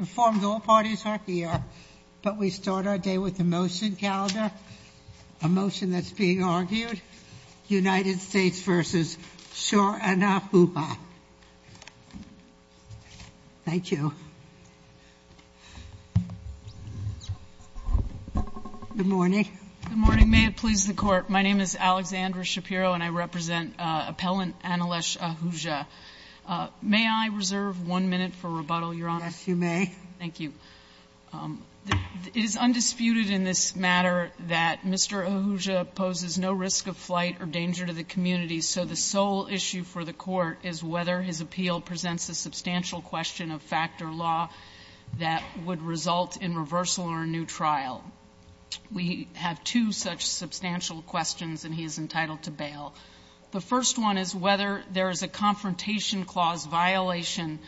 and formed all parties are here, but we start our day with the motion calendar, a motion that's being argued. United States v. Shor and Ahuja. Thank you. Good morning. Good morning. May it please the court. My name is Alexandra Shapiro and I represent Appellant Annalesh Ahuja. May I reserve one minute for rebuttal, Your Honor? Yes, you may. Thank you. It is undisputed in this matter that Mr. Ahuja poses no risk of flight or danger to the community, so the sole issue for the Court is whether his appeal presents a substantial question of fact or law that would result in reversal or a new trial. We have two such substantial questions, and he is entitled to bail. The first one is whether there is a confrontation clause violation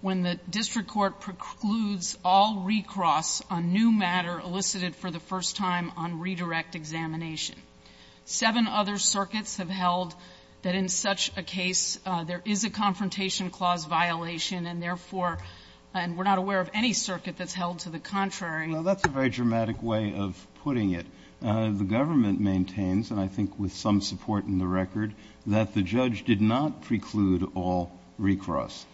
when the district court precludes all recross on new matter elicited for the first time on redirect examination. Seven other circuits have held that in such a case there is a confrontation clause violation, and therefore, and we're not aware of any circuit that's held to the contrary. Well, that's a very dramatic way of putting it. The government maintains, and I think with some support in the record, that the judge did not preclude all recross.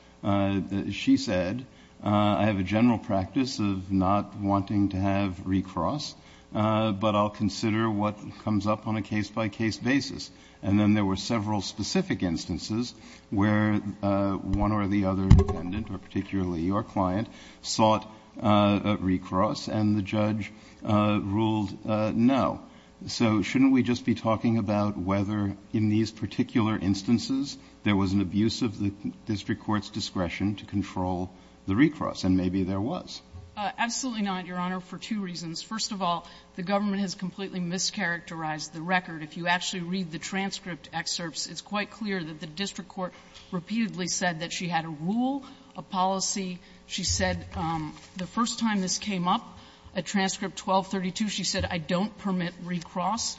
She said, I have a general practice of not wanting to have recross, but I'll consider what comes up on a case-by-case basis. And then there were several specific instances where one or the other defendant, or particularly your client, sought a recross, and the judge ruled not to have a recross, and so the judge ruled no. So shouldn't we just be talking about whether in these particular instances there was an abuse of the district court's discretion to control the recross, and maybe there was? Absolutely not, Your Honor, for two reasons. First of all, the government has completely mischaracterized the record. If you actually read the transcript excerpts, it's quite clear that the district court repeatedly said that she had a rule, a policy. She said the first time this came up, at transcript 1232, she said, I don't permit recross.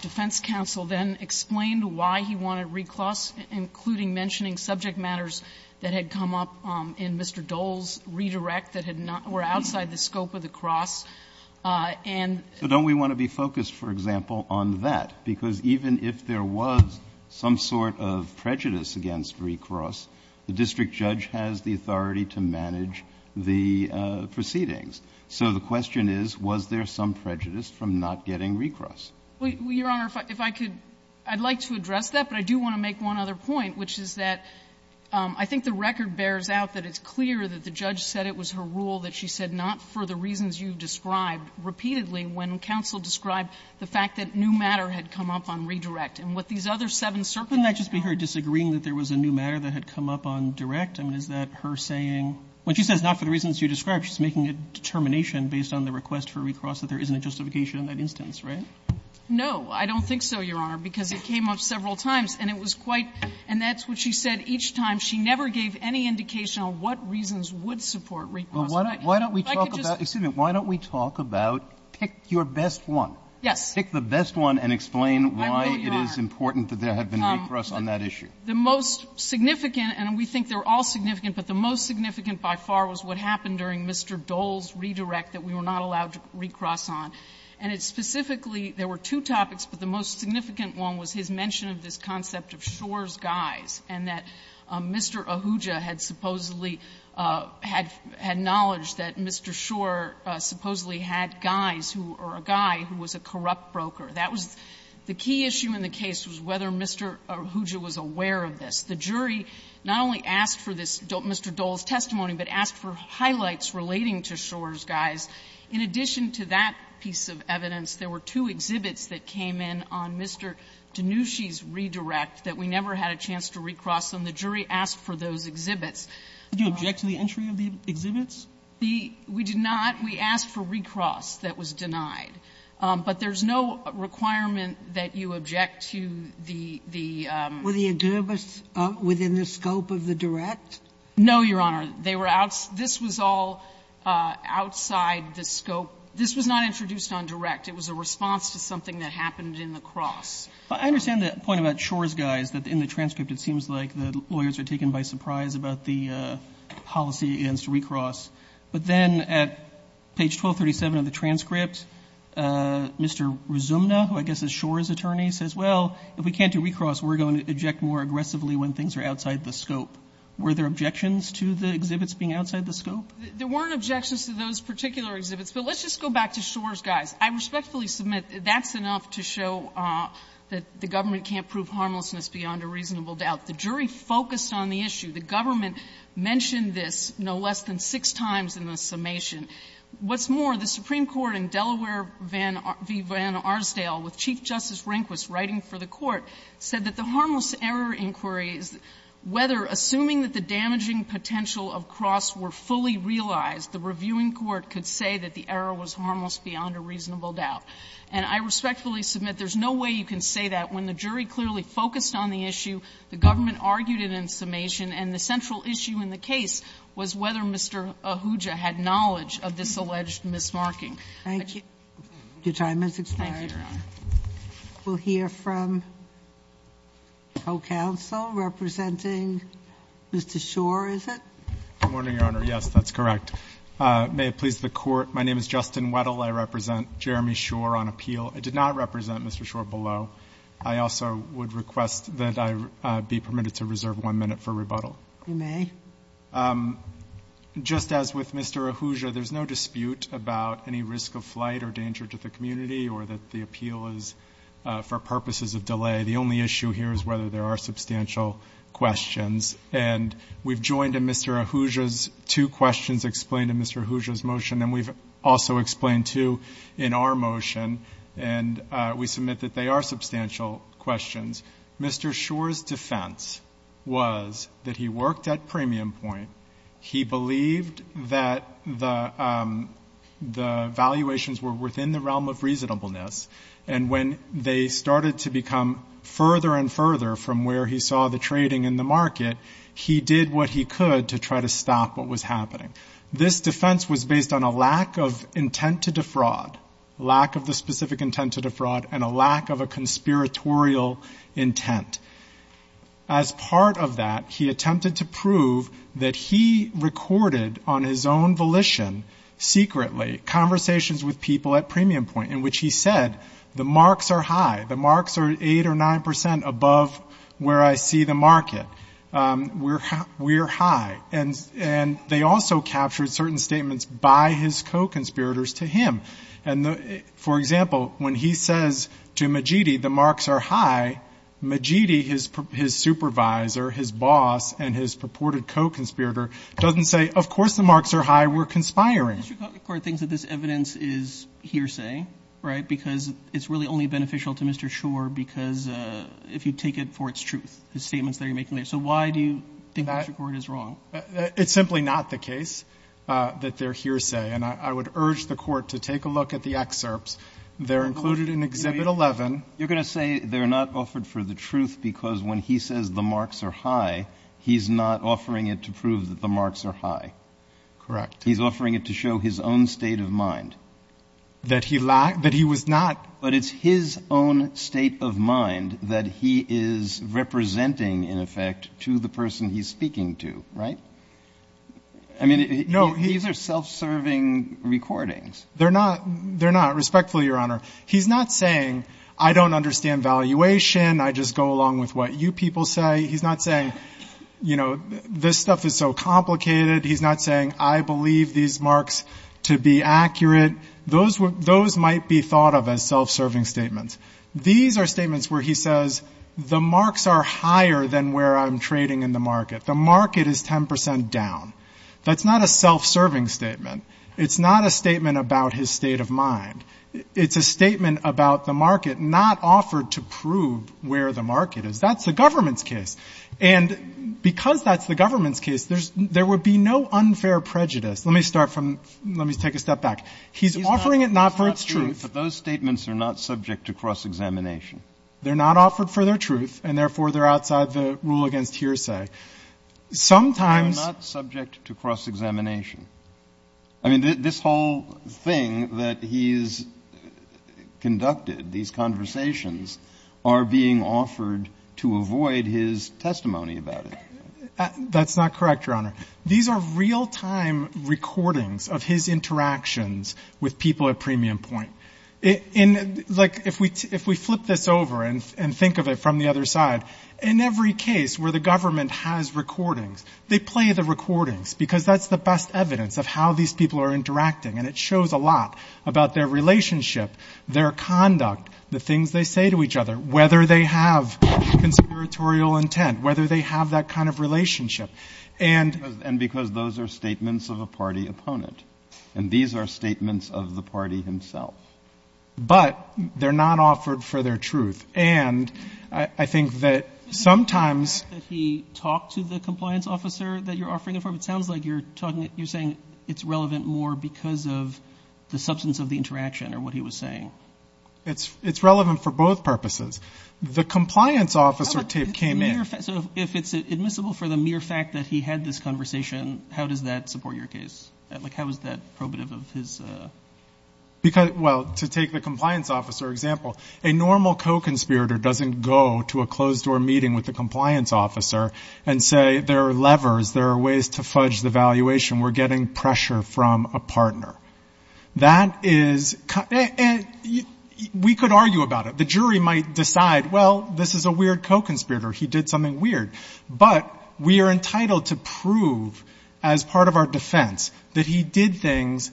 Defense counsel then explained why he wanted recross, including mentioning subject matters that had come up in Mr. Dole's redirect that had not been outside the scope of the cross. And so don't we want to be focused, for example, on that? Because even if there was some sort of prejudice against recross, the district judge has the authority to manage the proceedings. So the question is, was there some prejudice from not getting recross? Well, Your Honor, if I could, I'd like to address that, but I do want to make one other point, which is that I think the record bears out that it's clear that the judge said it was her rule that she said not for the reasons you described repeatedly when counsel described the fact that new matter had come up on redirect. And what these other seven circumstances found was that she said not for the reasons you described, she's making a determination based on the request for recross that there isn't a justification in that instance, right? No, I don't think so, Your Honor, because it came up several times, and it was quite – and that's what she said each time. She never gave any indication on what reasons would support recross. But why don't we talk about – excuse me. Why don't we talk about, pick your best one. Yes. Pick the best one and explain why it is important that there had been recross on that issue. The most significant, and we think they're all significant, but the most significant by far was what happened during Mr. Dole's redirect that we were not allowed to recross on. And it specifically – there were two topics, but the most significant one was his mention of this concept of Shor's guys, and that Mr. Ahuja had supposedly – had knowledge that Mr. Shor supposedly had guys who – or a guy who was a corrupt broker. That was – the key issue in the case was whether Mr. Ahuja was aware of this. The jury not only asked for this – Mr. Dole's testimony, but asked for highlights relating to Shor's guys. In addition to that piece of evidence, there were two exhibits that came in on Mr. Danushi's redirect that we never had a chance to recross on. The jury asked for those exhibits. Did you object to the entry of the exhibits? The – we did not. We asked for recross that was denied. But there's no requirement that you object to the – the – Were the exhibits within the scope of the direct? No, Your Honor. They were out – this was all outside the scope. This was not introduced on direct. It was a response to something that happened in the cross. I understand the point about Shor's guys, that in the transcript it seems like the lawyers are taken by surprise about the policy against recross. But then at page 1237 of the transcript, Mr. Rizumna, who I guess is Shor's attorney, says, well, if we can't do recross, we're going to object more aggressively when things are outside the scope. Were there objections to the exhibits being outside the scope? There weren't objections to those particular exhibits. But let's just go back to Shor's guys. I respectfully submit that's enough to show that the government can't prove harmlessness beyond a reasonable doubt. The jury focused on the issue. The government mentioned this no less than six times in the summation. What's more, the Supreme Court in Delaware v. Van Arsdale, with Chief Justice Rehnquist writing for the Court, said that the harmless error inquiries, whether assuming that the damaging potential of cross were fully realized, the reviewing court could say that the error was harmless beyond a reasonable doubt. And I respectfully submit there's no way you can say that when the jury clearly focused on the issue, the government argued it in summation, and the central issue in the case was whether Mr. Ahuja had knowledge of this alleged mismarking. Thank you. Your time has expired. Thank you, Your Honor. We'll hear from the whole counsel representing Mr. Shor, is it? Good morning, Your Honor. Yes, that's correct. May it please the Court, my name is Justin Weddle. I represent Jeremy Shor on appeal. I did not represent Mr. Shor below. I also would request that I be permitted to reserve one minute for rebuttal. You may. Just as with Mr. Ahuja, there's no dispute about any risk of flight or danger to the community, or that the appeal is for purposes of delay. The only issue here is whether there are substantial questions. And we've joined in Mr. Ahuja's two questions explained in Mr. Ahuja's motion, and we've also explained two in our motion, and we submit that they are substantial questions. Mr. Shor's defense was that he worked at premium point. He believed that the valuations were within the realm of reasonableness. And when they started to become further and further from where he saw the trading in the market, he did what he could to try to stop what was happening. This defense was based on a lack of intent to defraud, lack of the specific intent to defraud, and a lack of a conspiratorial intent. As part of that, he attempted to prove that he recorded on his own volition, secretly, conversations with people at premium point, in which he said, the marks are high, the marks are 8 or 9% above where I see the market. We're high. And they also captured certain statements by his co-conspirators to him. And for example, when he says to Mejidi, the marks are high, Mejidi, his supervisor, his boss, and his purported co-conspirator, doesn't say, of course the marks are high, we're conspiring. The district court thinks that this evidence is hearsay, right? Because it's really only beneficial to Mr. So why do you think the district court is wrong? It's simply not the case that they're hearsay. And I would urge the court to take a look at the excerpts. They're included in Exhibit 11. You're going to say they're not offered for the truth because when he says the marks are high, he's not offering it to prove that the marks are high. Correct. He's offering it to show his own state of mind. That he was not. But it's his own state of mind that he is representing, in effect, to the person he's speaking to, right? I mean, these are self-serving recordings. They're not, respectfully, Your Honor. He's not saying, I don't understand valuation. I just go along with what you people say. He's not saying, this stuff is so complicated. He's not saying, I believe these marks to be accurate. Those might be thought of as self-serving statements. These are statements where he says, the marks are higher than where I'm trading in the market. The market is 10% down. That's not a self-serving statement. It's not a statement about his state of mind. It's a statement about the market not offered to prove where the market is. That's the government's case. And because that's the government's case, there would be no unfair prejudice. Let me start from, let me take a step back. He's offering it not for its truth. But those statements are not subject to cross-examination. They're not offered for their truth, and therefore, they're outside the rule against hearsay. Sometimes- They're not subject to cross-examination. I mean, this whole thing that he's conducted, these conversations, are being offered to avoid his testimony about it. That's not correct, Your Honor. These are real-time recordings of his interactions with people at premium point. Like, if we flip this over and think of it from the other side, in every case where the government has recordings, they play the recordings. Because that's the best evidence of how these people are interacting. And it shows a lot about their relationship, their conduct, the things they say to each other, whether they have conspiratorial intent, whether they have that kind of relationship. And- And because those are statements of a party opponent. And these are statements of the party himself. But they're not offered for their truth. And I think that sometimes- The fact that he talked to the compliance officer that you're offering it for, it sounds like you're saying it's relevant more because of the substance of the interaction or what he was saying. It's relevant for both purposes. The compliance officer came in- So if it's admissible for the mere fact that he had this conversation, how does that support your case? Like, how is that probative of his- Because, well, to take the compliance officer example, a normal co-conspirator doesn't go to a closed door meeting with the compliance officer and say, there are levers, there are ways to fudge the valuation. We're getting pressure from a partner. That is, we could argue about it. The jury might decide, well, this is a weird co-conspirator. He did something weird. But we are entitled to prove, as part of our defense, that he did things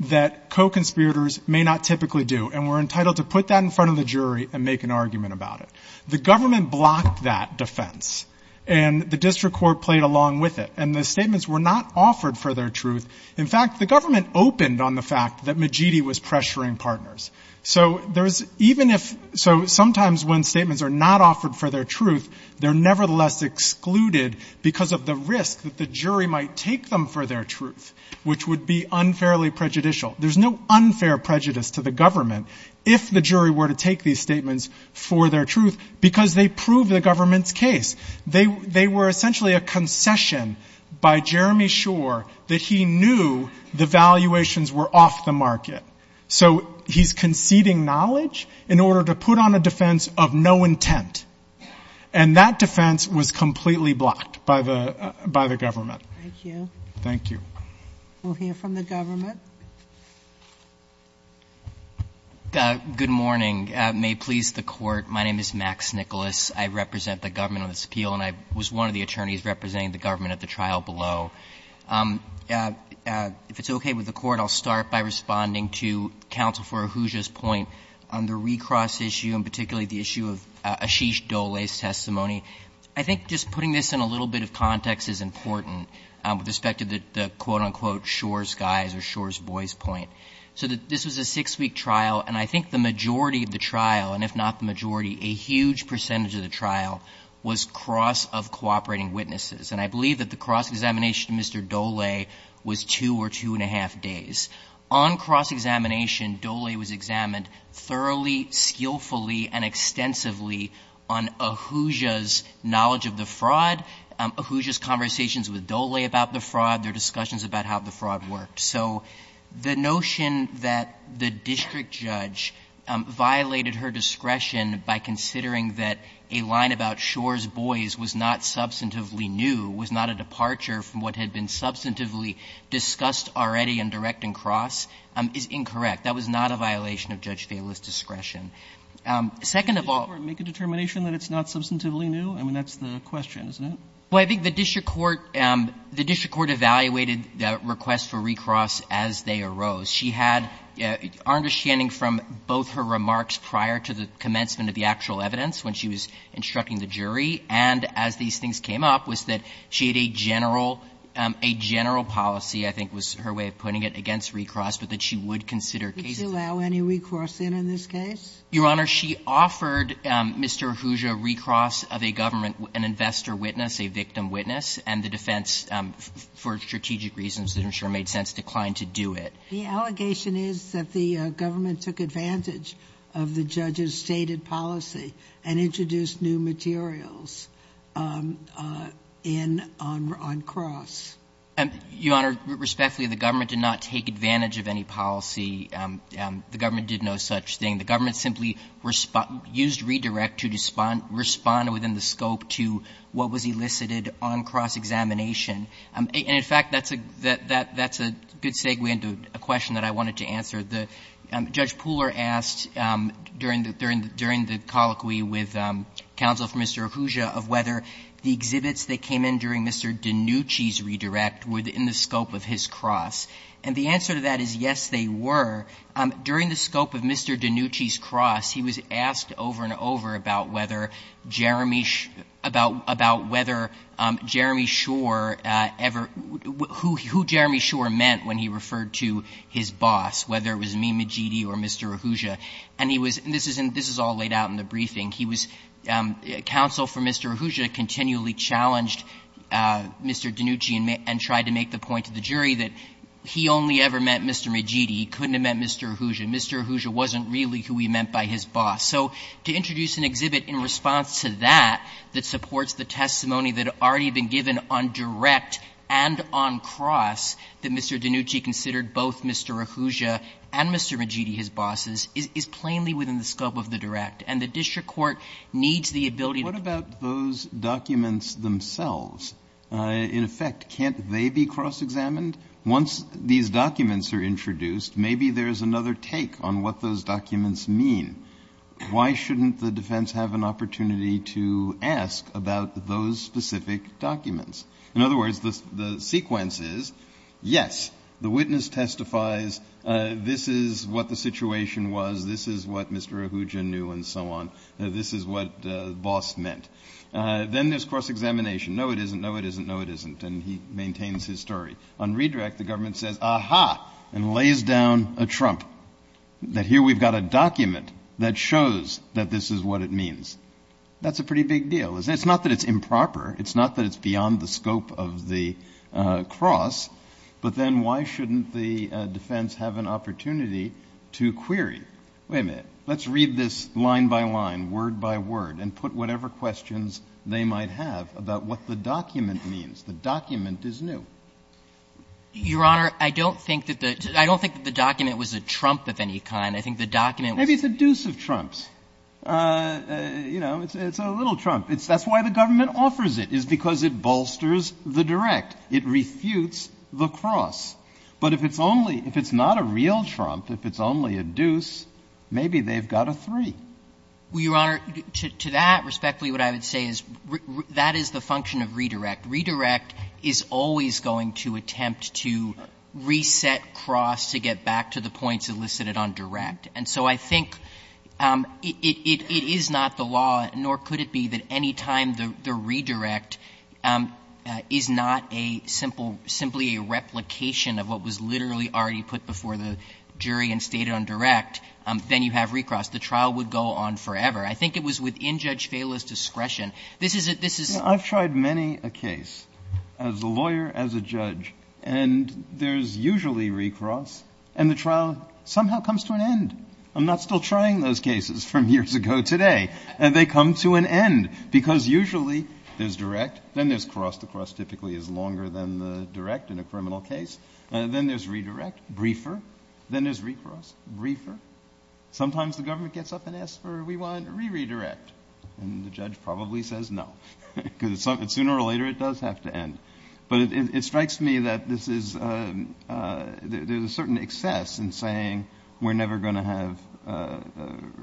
that co-conspirators may not typically do. And we're entitled to put that in front of the jury and make an argument about it. The government blocked that defense. And the district court played along with it. And the statements were not offered for their truth. In fact, the government opened on the fact that Majidi was pressuring partners. So sometimes when statements are not offered for their truth, they're nevertheless excluded because of the risk that the jury might take them for their truth, which would be unfairly prejudicial. There's no unfair prejudice to the government if the jury were to take these statements for their truth, because they prove the government's case. They were essentially a concession by Jeremy Shore that he knew the valuations were off the market. So he's conceding knowledge in order to put on a defense of no intent. And that defense was completely blocked by the government. Thank you. Thank you. We'll hear from the government. Good morning. May it please the court. My name is Max Nicholas. I represent the government on this appeal, and I was one of the attorneys representing the government at the trial below. If it's okay with the court, I'll start by responding to Counsel for Ahuja's point on the recross issue, and particularly the issue of Ashish Dole's testimony. I think just putting this in a little bit of context is important with respect to the quote, unquote, Shore's guys or Shore's boys point. So this was a six-week trial, and I think the majority of the trial, and if not the majority, a huge percentage of the trial was cross of cooperating witnesses. And I believe that the cross examination to Mr. Dole was two or two and a half days. On cross examination, Dole was examined thoroughly, skillfully, and extensively on Ahuja's knowledge of the fraud, Ahuja's conversations with Dole about the fraud, their discussions about how the fraud worked. So the notion that the district judge violated her discretion by considering that a line about Shore's boys was not substantively new, was not a departure from what had been substantively discussed already in direct and cross is incorrect. That was not a violation of Judge Vaila's discretion. Second of all ---- Roberts. Did the district court make a determination that it's not substantively new? I mean, that's the question, isn't it? Well, I think the district court evaluated the request for recross as they arose. She had our understanding from both her remarks prior to the commencement of the actual evidence, when she was instructing the jury, and as these things came up, was that she had a general ---- a general policy, I think was her way of putting it, against recross, but that she would consider cases ---- Would she allow any recross in, in this case? Your Honor, she offered Mr. Ahuja recross of a government ---- an investor witness, a victim witness, and the defense, for strategic reasons that I'm sure made sense, declined to do it. The allegation is that the government took advantage of the judge's stated policy and introduced new materials in ---- on cross. Your Honor, respectfully, the government did not take advantage of any policy. The government did no such thing. The government simply used redirect to respond within the scope to what was elicited on cross-examination. And in fact, that's a good segue into a question that I wanted to answer. Judge Pooler asked during the colloquy with counsel for Mr. Ahuja of whether the exhibits that came in during Mr. DiNucci's redirect were in the scope of his cross. And the answer to that is, yes, they were. During the scope of Mr. DiNucci's cross, he was asked over and over about whether Jeremy Shore ever ---- who Jeremy Shore meant when he referred to his boss, whether it was me, Mejidi, or Mr. Ahuja. And he was ---- and this is all laid out in the briefing. He was ---- counsel for Mr. Ahuja continually challenged Mr. DiNucci and tried to make the point to the jury that he only ever met Mr. Mejidi, he couldn't have met Mr. Ahuja. Mr. Ahuja wasn't really who he meant by his boss. So to introduce an exhibit in response to that, that supports the testimony that had already been given on direct and on cross that Mr. DiNucci considered both Mr. Ahuja and Mr. Mejidi, his bosses, is plainly within the scope of the direct. And the district court needs the ability to ---- Kennedy, what about those documents themselves? In effect, can't they be cross-examined? Once these documents are introduced, maybe there's another take on what those documents mean. Why shouldn't the defense have an opportunity to ask about those specific documents? In other words, the sequence is, yes, the witness testifies, this is what the situation was, this is what Mr. Ahuja knew and so on, this is what the boss meant. Then there's cross-examination. No, it isn't. No, it isn't. No, it isn't. And he maintains his story. On redirect, the government says, aha, and lays down a trump, that here we've got a document that shows that this is what it means. That's a pretty big deal, isn't it? It's not that it's improper. It's not that it's beyond the scope of the cross. But then why shouldn't the defense have an opportunity to query? Wait a minute. Let's read this line by line, word by word, and put whatever questions they might have about what the document means. The document is new. Your Honor, I don't think that the ---- I don't think that the document was a trump of any kind. I think the document was ---- Maybe it's a deuce of trumps. You know, it's a little trump. That's why the government offers it, is because it bolsters the direct. It refutes the cross. But if it's only ---- if it's not a real trump, if it's only a deuce, maybe they've got a three. Well, Your Honor, to that respect, what I would say is that is the function of redirect. Redirect is always going to attempt to reset cross to get back to the points elicited on direct. And so I think it is not the law, nor could it be, that any time the redirect is not a simple, simply a replication of what was literally already put before the jury and stated on direct, then you have recross. The trial would go on forever. I think it was within Judge Fela's discretion. This is a ---- this is ---- I've tried many a case, as a lawyer, as a judge, and there's usually recross, and the trial somehow comes to an end. I'm not still trying those cases from years ago today. And they come to an end, because usually there's direct, then there's cross. The cross typically is longer than the direct in a criminal case. Then there's redirect, briefer. Then there's recross, briefer. Sometimes the government gets up and asks for, we want reredirect. And the judge probably says no, because sooner or later it does have to end. But it strikes me that this is ---- there's a certain excess in saying we're never going to have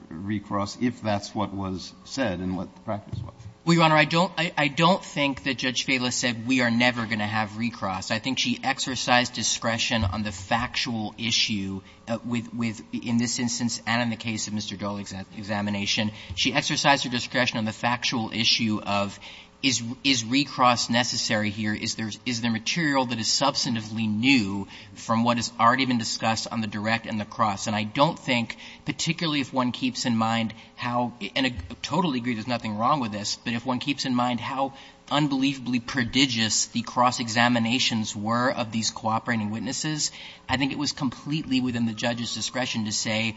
recross if that's what was said and what the practice was. Well, Your Honor, I don't think that Judge Fela said we are never going to have recross. I think she exercised discretion on the factual issue with ---- in this instance and in the case of Mr. Dole's examination, she exercised her discretion on the factual issue of is recross necessary here? Is there material that is substantively new from what has already been discussed on the direct and the cross? And I don't think, particularly if one keeps in mind how ---- and I totally agree there's nothing wrong with this. But if one keeps in mind how unbelievably prodigious the cross examinations were of these cooperating witnesses, I think it was completely within the judge's discretion to say,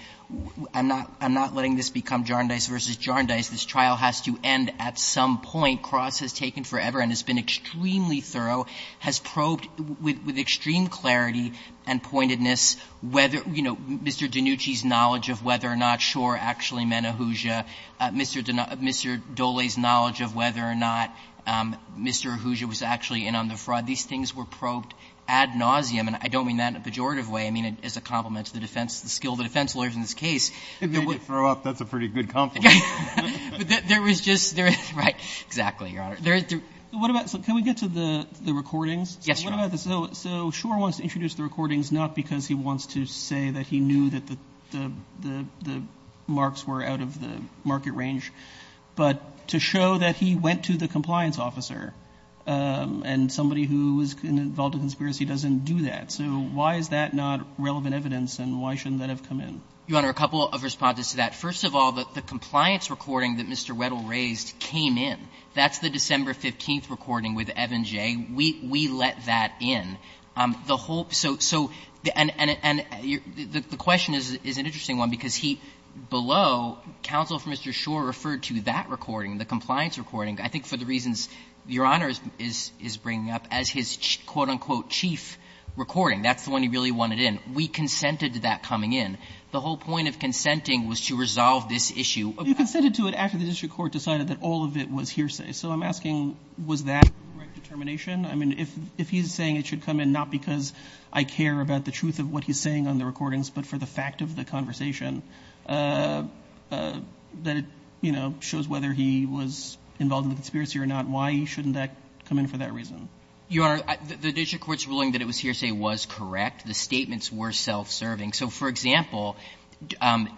I'm not letting this become jarndice versus jarndice. This trial has to end at some point. Cross has taken forever and has been extremely thorough, has probed with extreme clarity and pointedness whether ---- you know, Mr. DiNucci's knowledge of whether or not Schor actually meant Ahuja, Mr. Dole's knowledge of whether or not Mr. Ahuja was actually in on the fraud, these things were probed ad nauseam. And I don't mean that in a pejorative way. I mean it as a compliment to the defense, the skill of the defense lawyers in this case. If they did throw up, that's a pretty good compliment. There was just ---- Right. Exactly, Your Honor. There is ---- What about ---- can we get to the recordings? Yes, Your Honor. So Schor wants to introduce the recordings not because he wants to say that he knew that the marks were out of the market range, but to show that he went to the compliance officer and somebody who was involved in the conspiracy doesn't do that. So why is that not relevant evidence and why shouldn't that have come in? Your Honor, a couple of responses to that. First of all, the compliance recording that Mr. Weddle raised came in. That's the December 15th recording with Evan Jay. We let that in. The whole ---- so, and the question is an interesting one because he, below, counsel for Mr. Schor referred to that recording, the compliance recording, I think for the reasons Your Honor is bringing up, as his quote, unquote, chief recording. That's the one he really wanted in. We consented to that coming in. The whole point of consenting was to resolve this issue. You consented to it after the district court decided that all of it was hearsay. So I'm asking, was that the right determination? I mean, if he's saying it should come in not because I care about the truth of what he's saying on the recordings, but for the fact of the conversation, that it, you know, shows whether he was involved in the conspiracy or not, why shouldn't that come in for that reason? Your Honor, the district court's ruling that it was hearsay was correct. The statements were self-serving. So, for example, when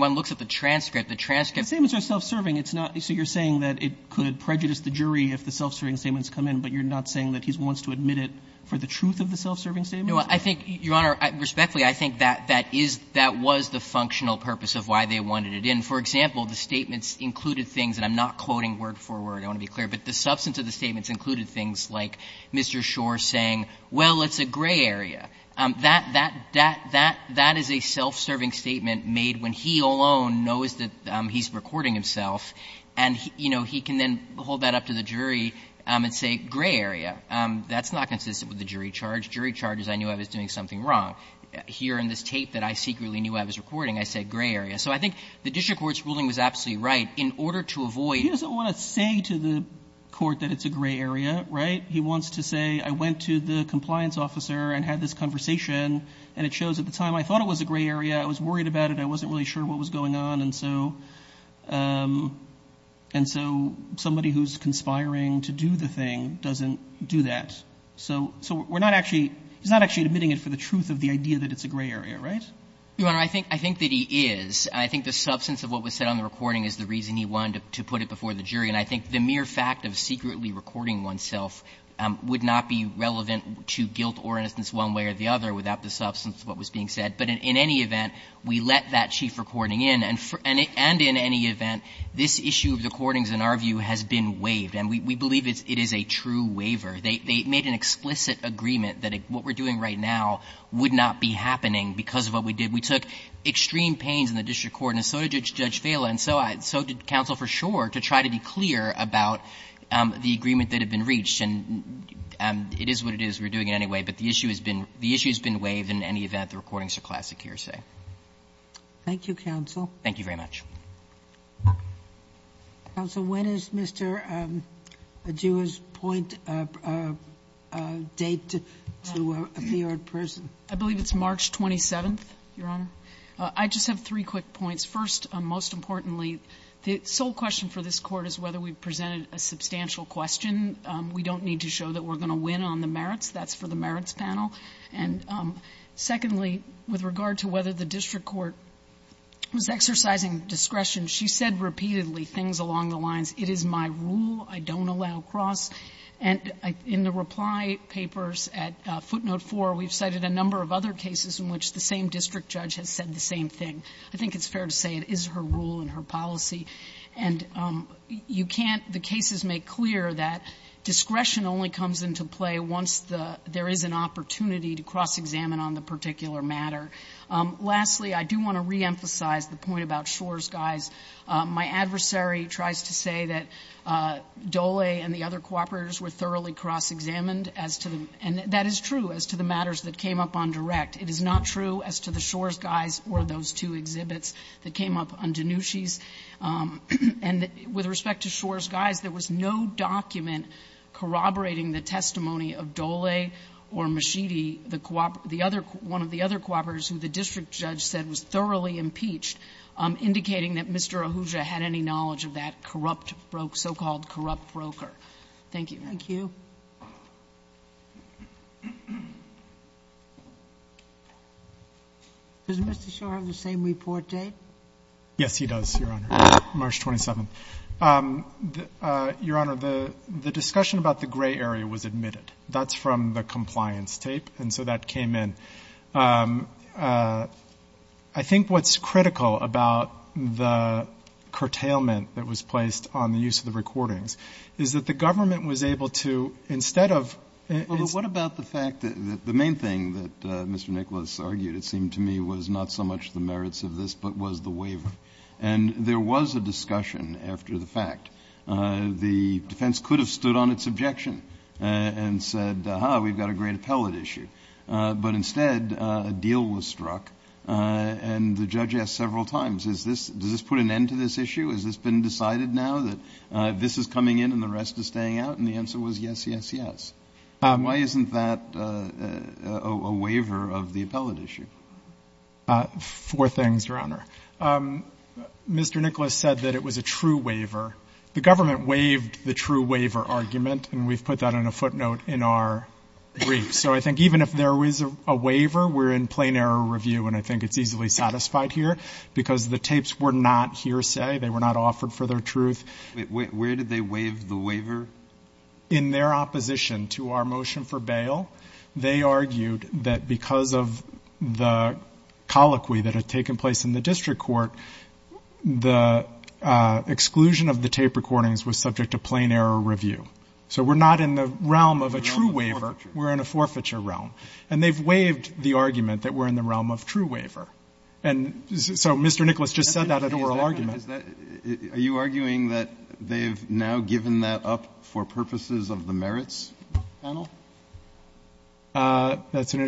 one looks at the transcript, the transcripts are self-serving. It's not so you're saying that it could prejudice the jury if the self-serving statements come in, but you're not saying that he wants to admit it for the truth of the self-serving statements? No, I think, Your Honor, respectfully, I think that that is, that was the functional purpose of why they wanted it in. For example, the statements included things, and I'm not quoting word for word, I want to be clear, but the substance of the statements included things like Mr. Schor saying, well, it's a gray area. That, that, that, that is a self-serving statement made when he alone knows that he's recording himself, and, you know, he can then hold that up to the jury and say, gray area. That's not consistent with the jury charge. Jury charge is I knew I was doing something wrong. Here in this tape that I secretly knew I was recording, I said gray area. So I think the district court's ruling was absolutely right. In order to avoid the- Sotomayor He doesn't want to say to the court that it's a gray area, right? He wants to say, I went to the compliance officer and had this conversation, and it shows at the time I thought it was a gray area. I was worried about it. I wasn't really sure what was going on. And so, and so somebody who's conspiring to do the thing doesn't do that. So, so we're not actually, he's not actually admitting it for the truth of the idea that it's a gray area, right? Your Honor, I think, I think that he is. I think the substance of what was said on the recording is the reason he wanted to put it before the jury. And I think the mere fact of secretly recording oneself would not be relevant to guilt or innocence one way or the other without the substance of what was being said. But in any event, we let that chief recording in. And in any event, this issue of the recordings, in our view, has been waived. And we believe it is a true waiver. They made an explicit agreement that what we're doing right now would not be happening because of what we did. We took extreme pains in the district court, and so did Judge Vaila, and so did counsel for sure, to try to be clear about the agreement that had been reached. And it is what it is. We're doing it anyway. But the issue has been, the issue has been waived. In any event, the recordings are classic hearsay. Thank you, counsel. Thank you very much. Counsel, when is Mr. Adua's point date to appear in person? I believe it's March 27th, Your Honor. I just have three quick points. First, most importantly, the sole question for this Court is whether we've presented a substantial question. We don't need to show that we're going to win on the merits. That's for the merits panel. And secondly, with regard to whether the district court was exercising discretion, she said repeatedly things along the lines, it is my rule, I don't allow cross. And in the reply papers at footnote 4, we've cited a number of other cases in which the same district judge has said the same thing. I think it's fair to say it is her rule and her policy. And you can't the cases make clear that discretion only comes into play once there is an opportunity to cross-examine on the particular matter. Lastly, I do want to reemphasize the point about Shor's guise. My adversary tries to say that Dole and the other cooperators were thoroughly cross-examined as to the and that is true as to the matters that came up on direct. It is not true as to the Shor's guise or those two exhibits that came up on Danucci's. And with respect to Shor's guise, there was no document corroborating the testimony of Dole or Mishidi, the one of the other cooperators who the district judge said was thoroughly impeached, indicating that Mr. Ahuja had any knowledge of that corrupt so-called corrupt broker. Thank you. Does Mr. Shor have the same report date? Yes, he does, Your Honor, March 27th. Your Honor, the discussion about the gray area was admitted. That's from the compliance tape, and so that came in. I think what's critical about the curtailment that was placed on the use of the recordings is that the government was able to, instead of What about the fact that the main thing that Mr. Nicholas argued, it seemed to me, was not so much the merits of this, but was the waiver, and there was a discussion after the fact. The defense could have stood on its objection and said, aha, we've got a great appellate issue, but instead a deal was struck, and the judge asked several times, does this put an end to this issue? Has this been decided now that this is coming in and the rest is staying out? And the answer was yes, yes, yes. Why isn't that a waiver of the appellate issue? Four things, Your Honor. Mr. Nicholas said that it was a true waiver. The government waived the true waiver argument, and we've put that on a footnote in our brief. So I think even if there was a waiver, we're in plain error review, and I think it's easily satisfied here, because the tapes were not hearsay, they were not offered for their truth. Wait. Where did they waive the waiver? In their opposition to our motion for bail, they argued that because of the colloquy that had taken place in the district court, the exclusion of the tape recordings was subject to plain error review. So we're not in the realm of a true waiver, we're in a forfeiture realm. And they've waived the argument that we're in the realm of true waiver. And so Mr. Nicholas just said that at oral argument. Are you arguing that they've now given that up for purposes of the merits panel? That's an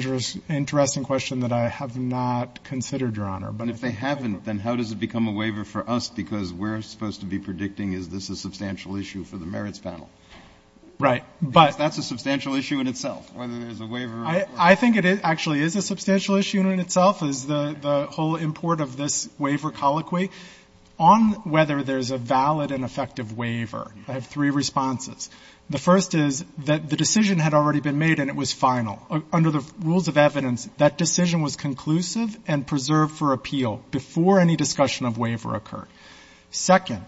interesting question that I have not considered, Your Honor. But if they haven't, then how does it become a waiver for us, because we're supposed to be predicting is this a substantial issue for the merits panel? Right. But that's a substantial issue in itself, whether there's a waiver or not. I think it actually is a substantial issue in itself, is the whole import of this waiver colloquy. On whether there's a valid and effective waiver, I have three responses. The first is that the decision had already been made and it was final. Under the rules of evidence, that decision was conclusive and preserved for appeal before any discussion of waiver occurred. Second,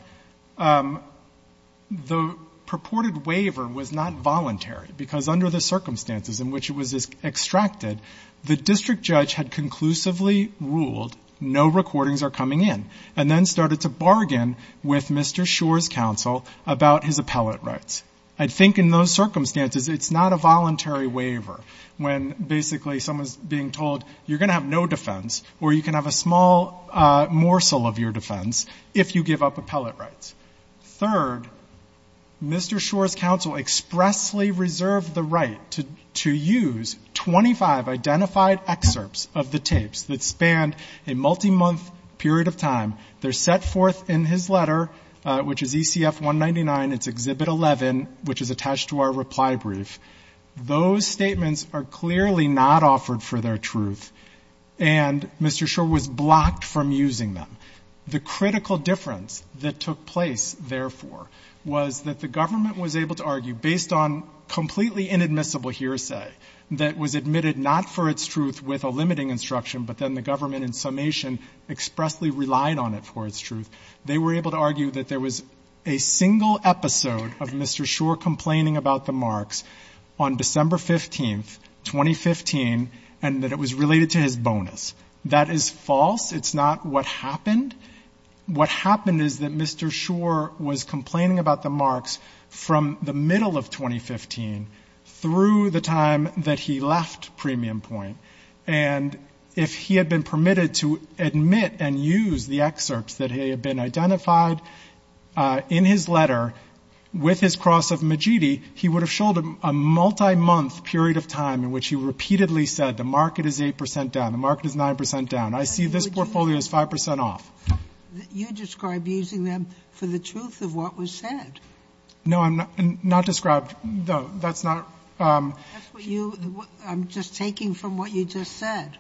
the purported waiver was not voluntary, because under the circumstances in which it was extracted, the district judge had conclusively ruled no recordings are coming in and then started to bargain with Mr. Shor's counsel about his appellate rights. I think in those circumstances, it's not a voluntary waiver when basically someone's being told you're going to have no defense or you can have a small morsel of your defense if you give up appellate rights. Third, Mr. Shor's counsel expressly reserved the right to use 25 identified excerpts of the tapes that spanned a multi-month period of time. They're set forth in his letter, which is ECF 199, it's Exhibit 11, which is attached to our reply brief. Those statements are clearly not offered for their truth, and Mr. Shor was blocked from using them. The critical difference that took place, therefore, was that the government was able to argue, based on completely inadmissible hearsay that was admitted not for its truth with a limiting instruction, but then the government in summation expressly relied on it for its truth, they were able to argue that there was a single episode of Mr. Shor complaining about the marks on December 15th, 2015, and that it was related to his bonus. That is false. It's not what happened. What happened is that Mr. Shor was complaining about the marks from the middle of 2015 through the time that he left Premium Point, and if he had been permitted to admit and use the excerpts that had been identified in his letter with his cross of Majidi, he would have showed a multi-month period of time in which he repeatedly said, the market is 8% down, the market is 9% down. I see this portfolio is 5% off. You describe using them for the truth of what was said. No, I'm not describing, no, that's not. That's what you, I'm just taking from what you just said.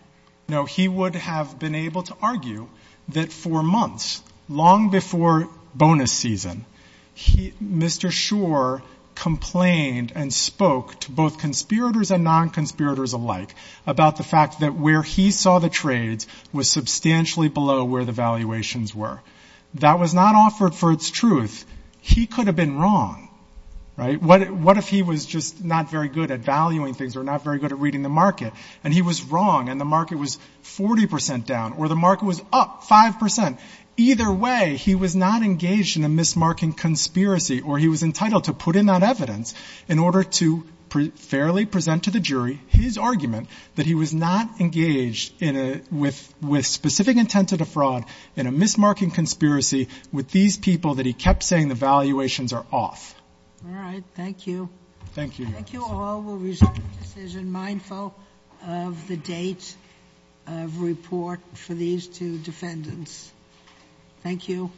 No, he would have been able to argue that for months, long before bonus season, Mr. Shor complained and spoke to both conspirators and non-conspirators alike about the fact that where he saw the trades was substantially below where the valuations were. That was not offered for its truth. He could have been wrong, right? What if he was just not very good at valuing things, or not very good at reading the market, and he was wrong, and the market was 40% down, or the market was up 5%? Either way, he was not engaged in a mismarking conspiracy, or he was entitled to put in that he was not engaged with specific intent to defraud in a mismarking conspiracy with these people that he kept saying the valuations are off. All right. Thank you. Thank you. Thank you all. We'll resume the decision mindful of the date of report for these two defendants. Thank you.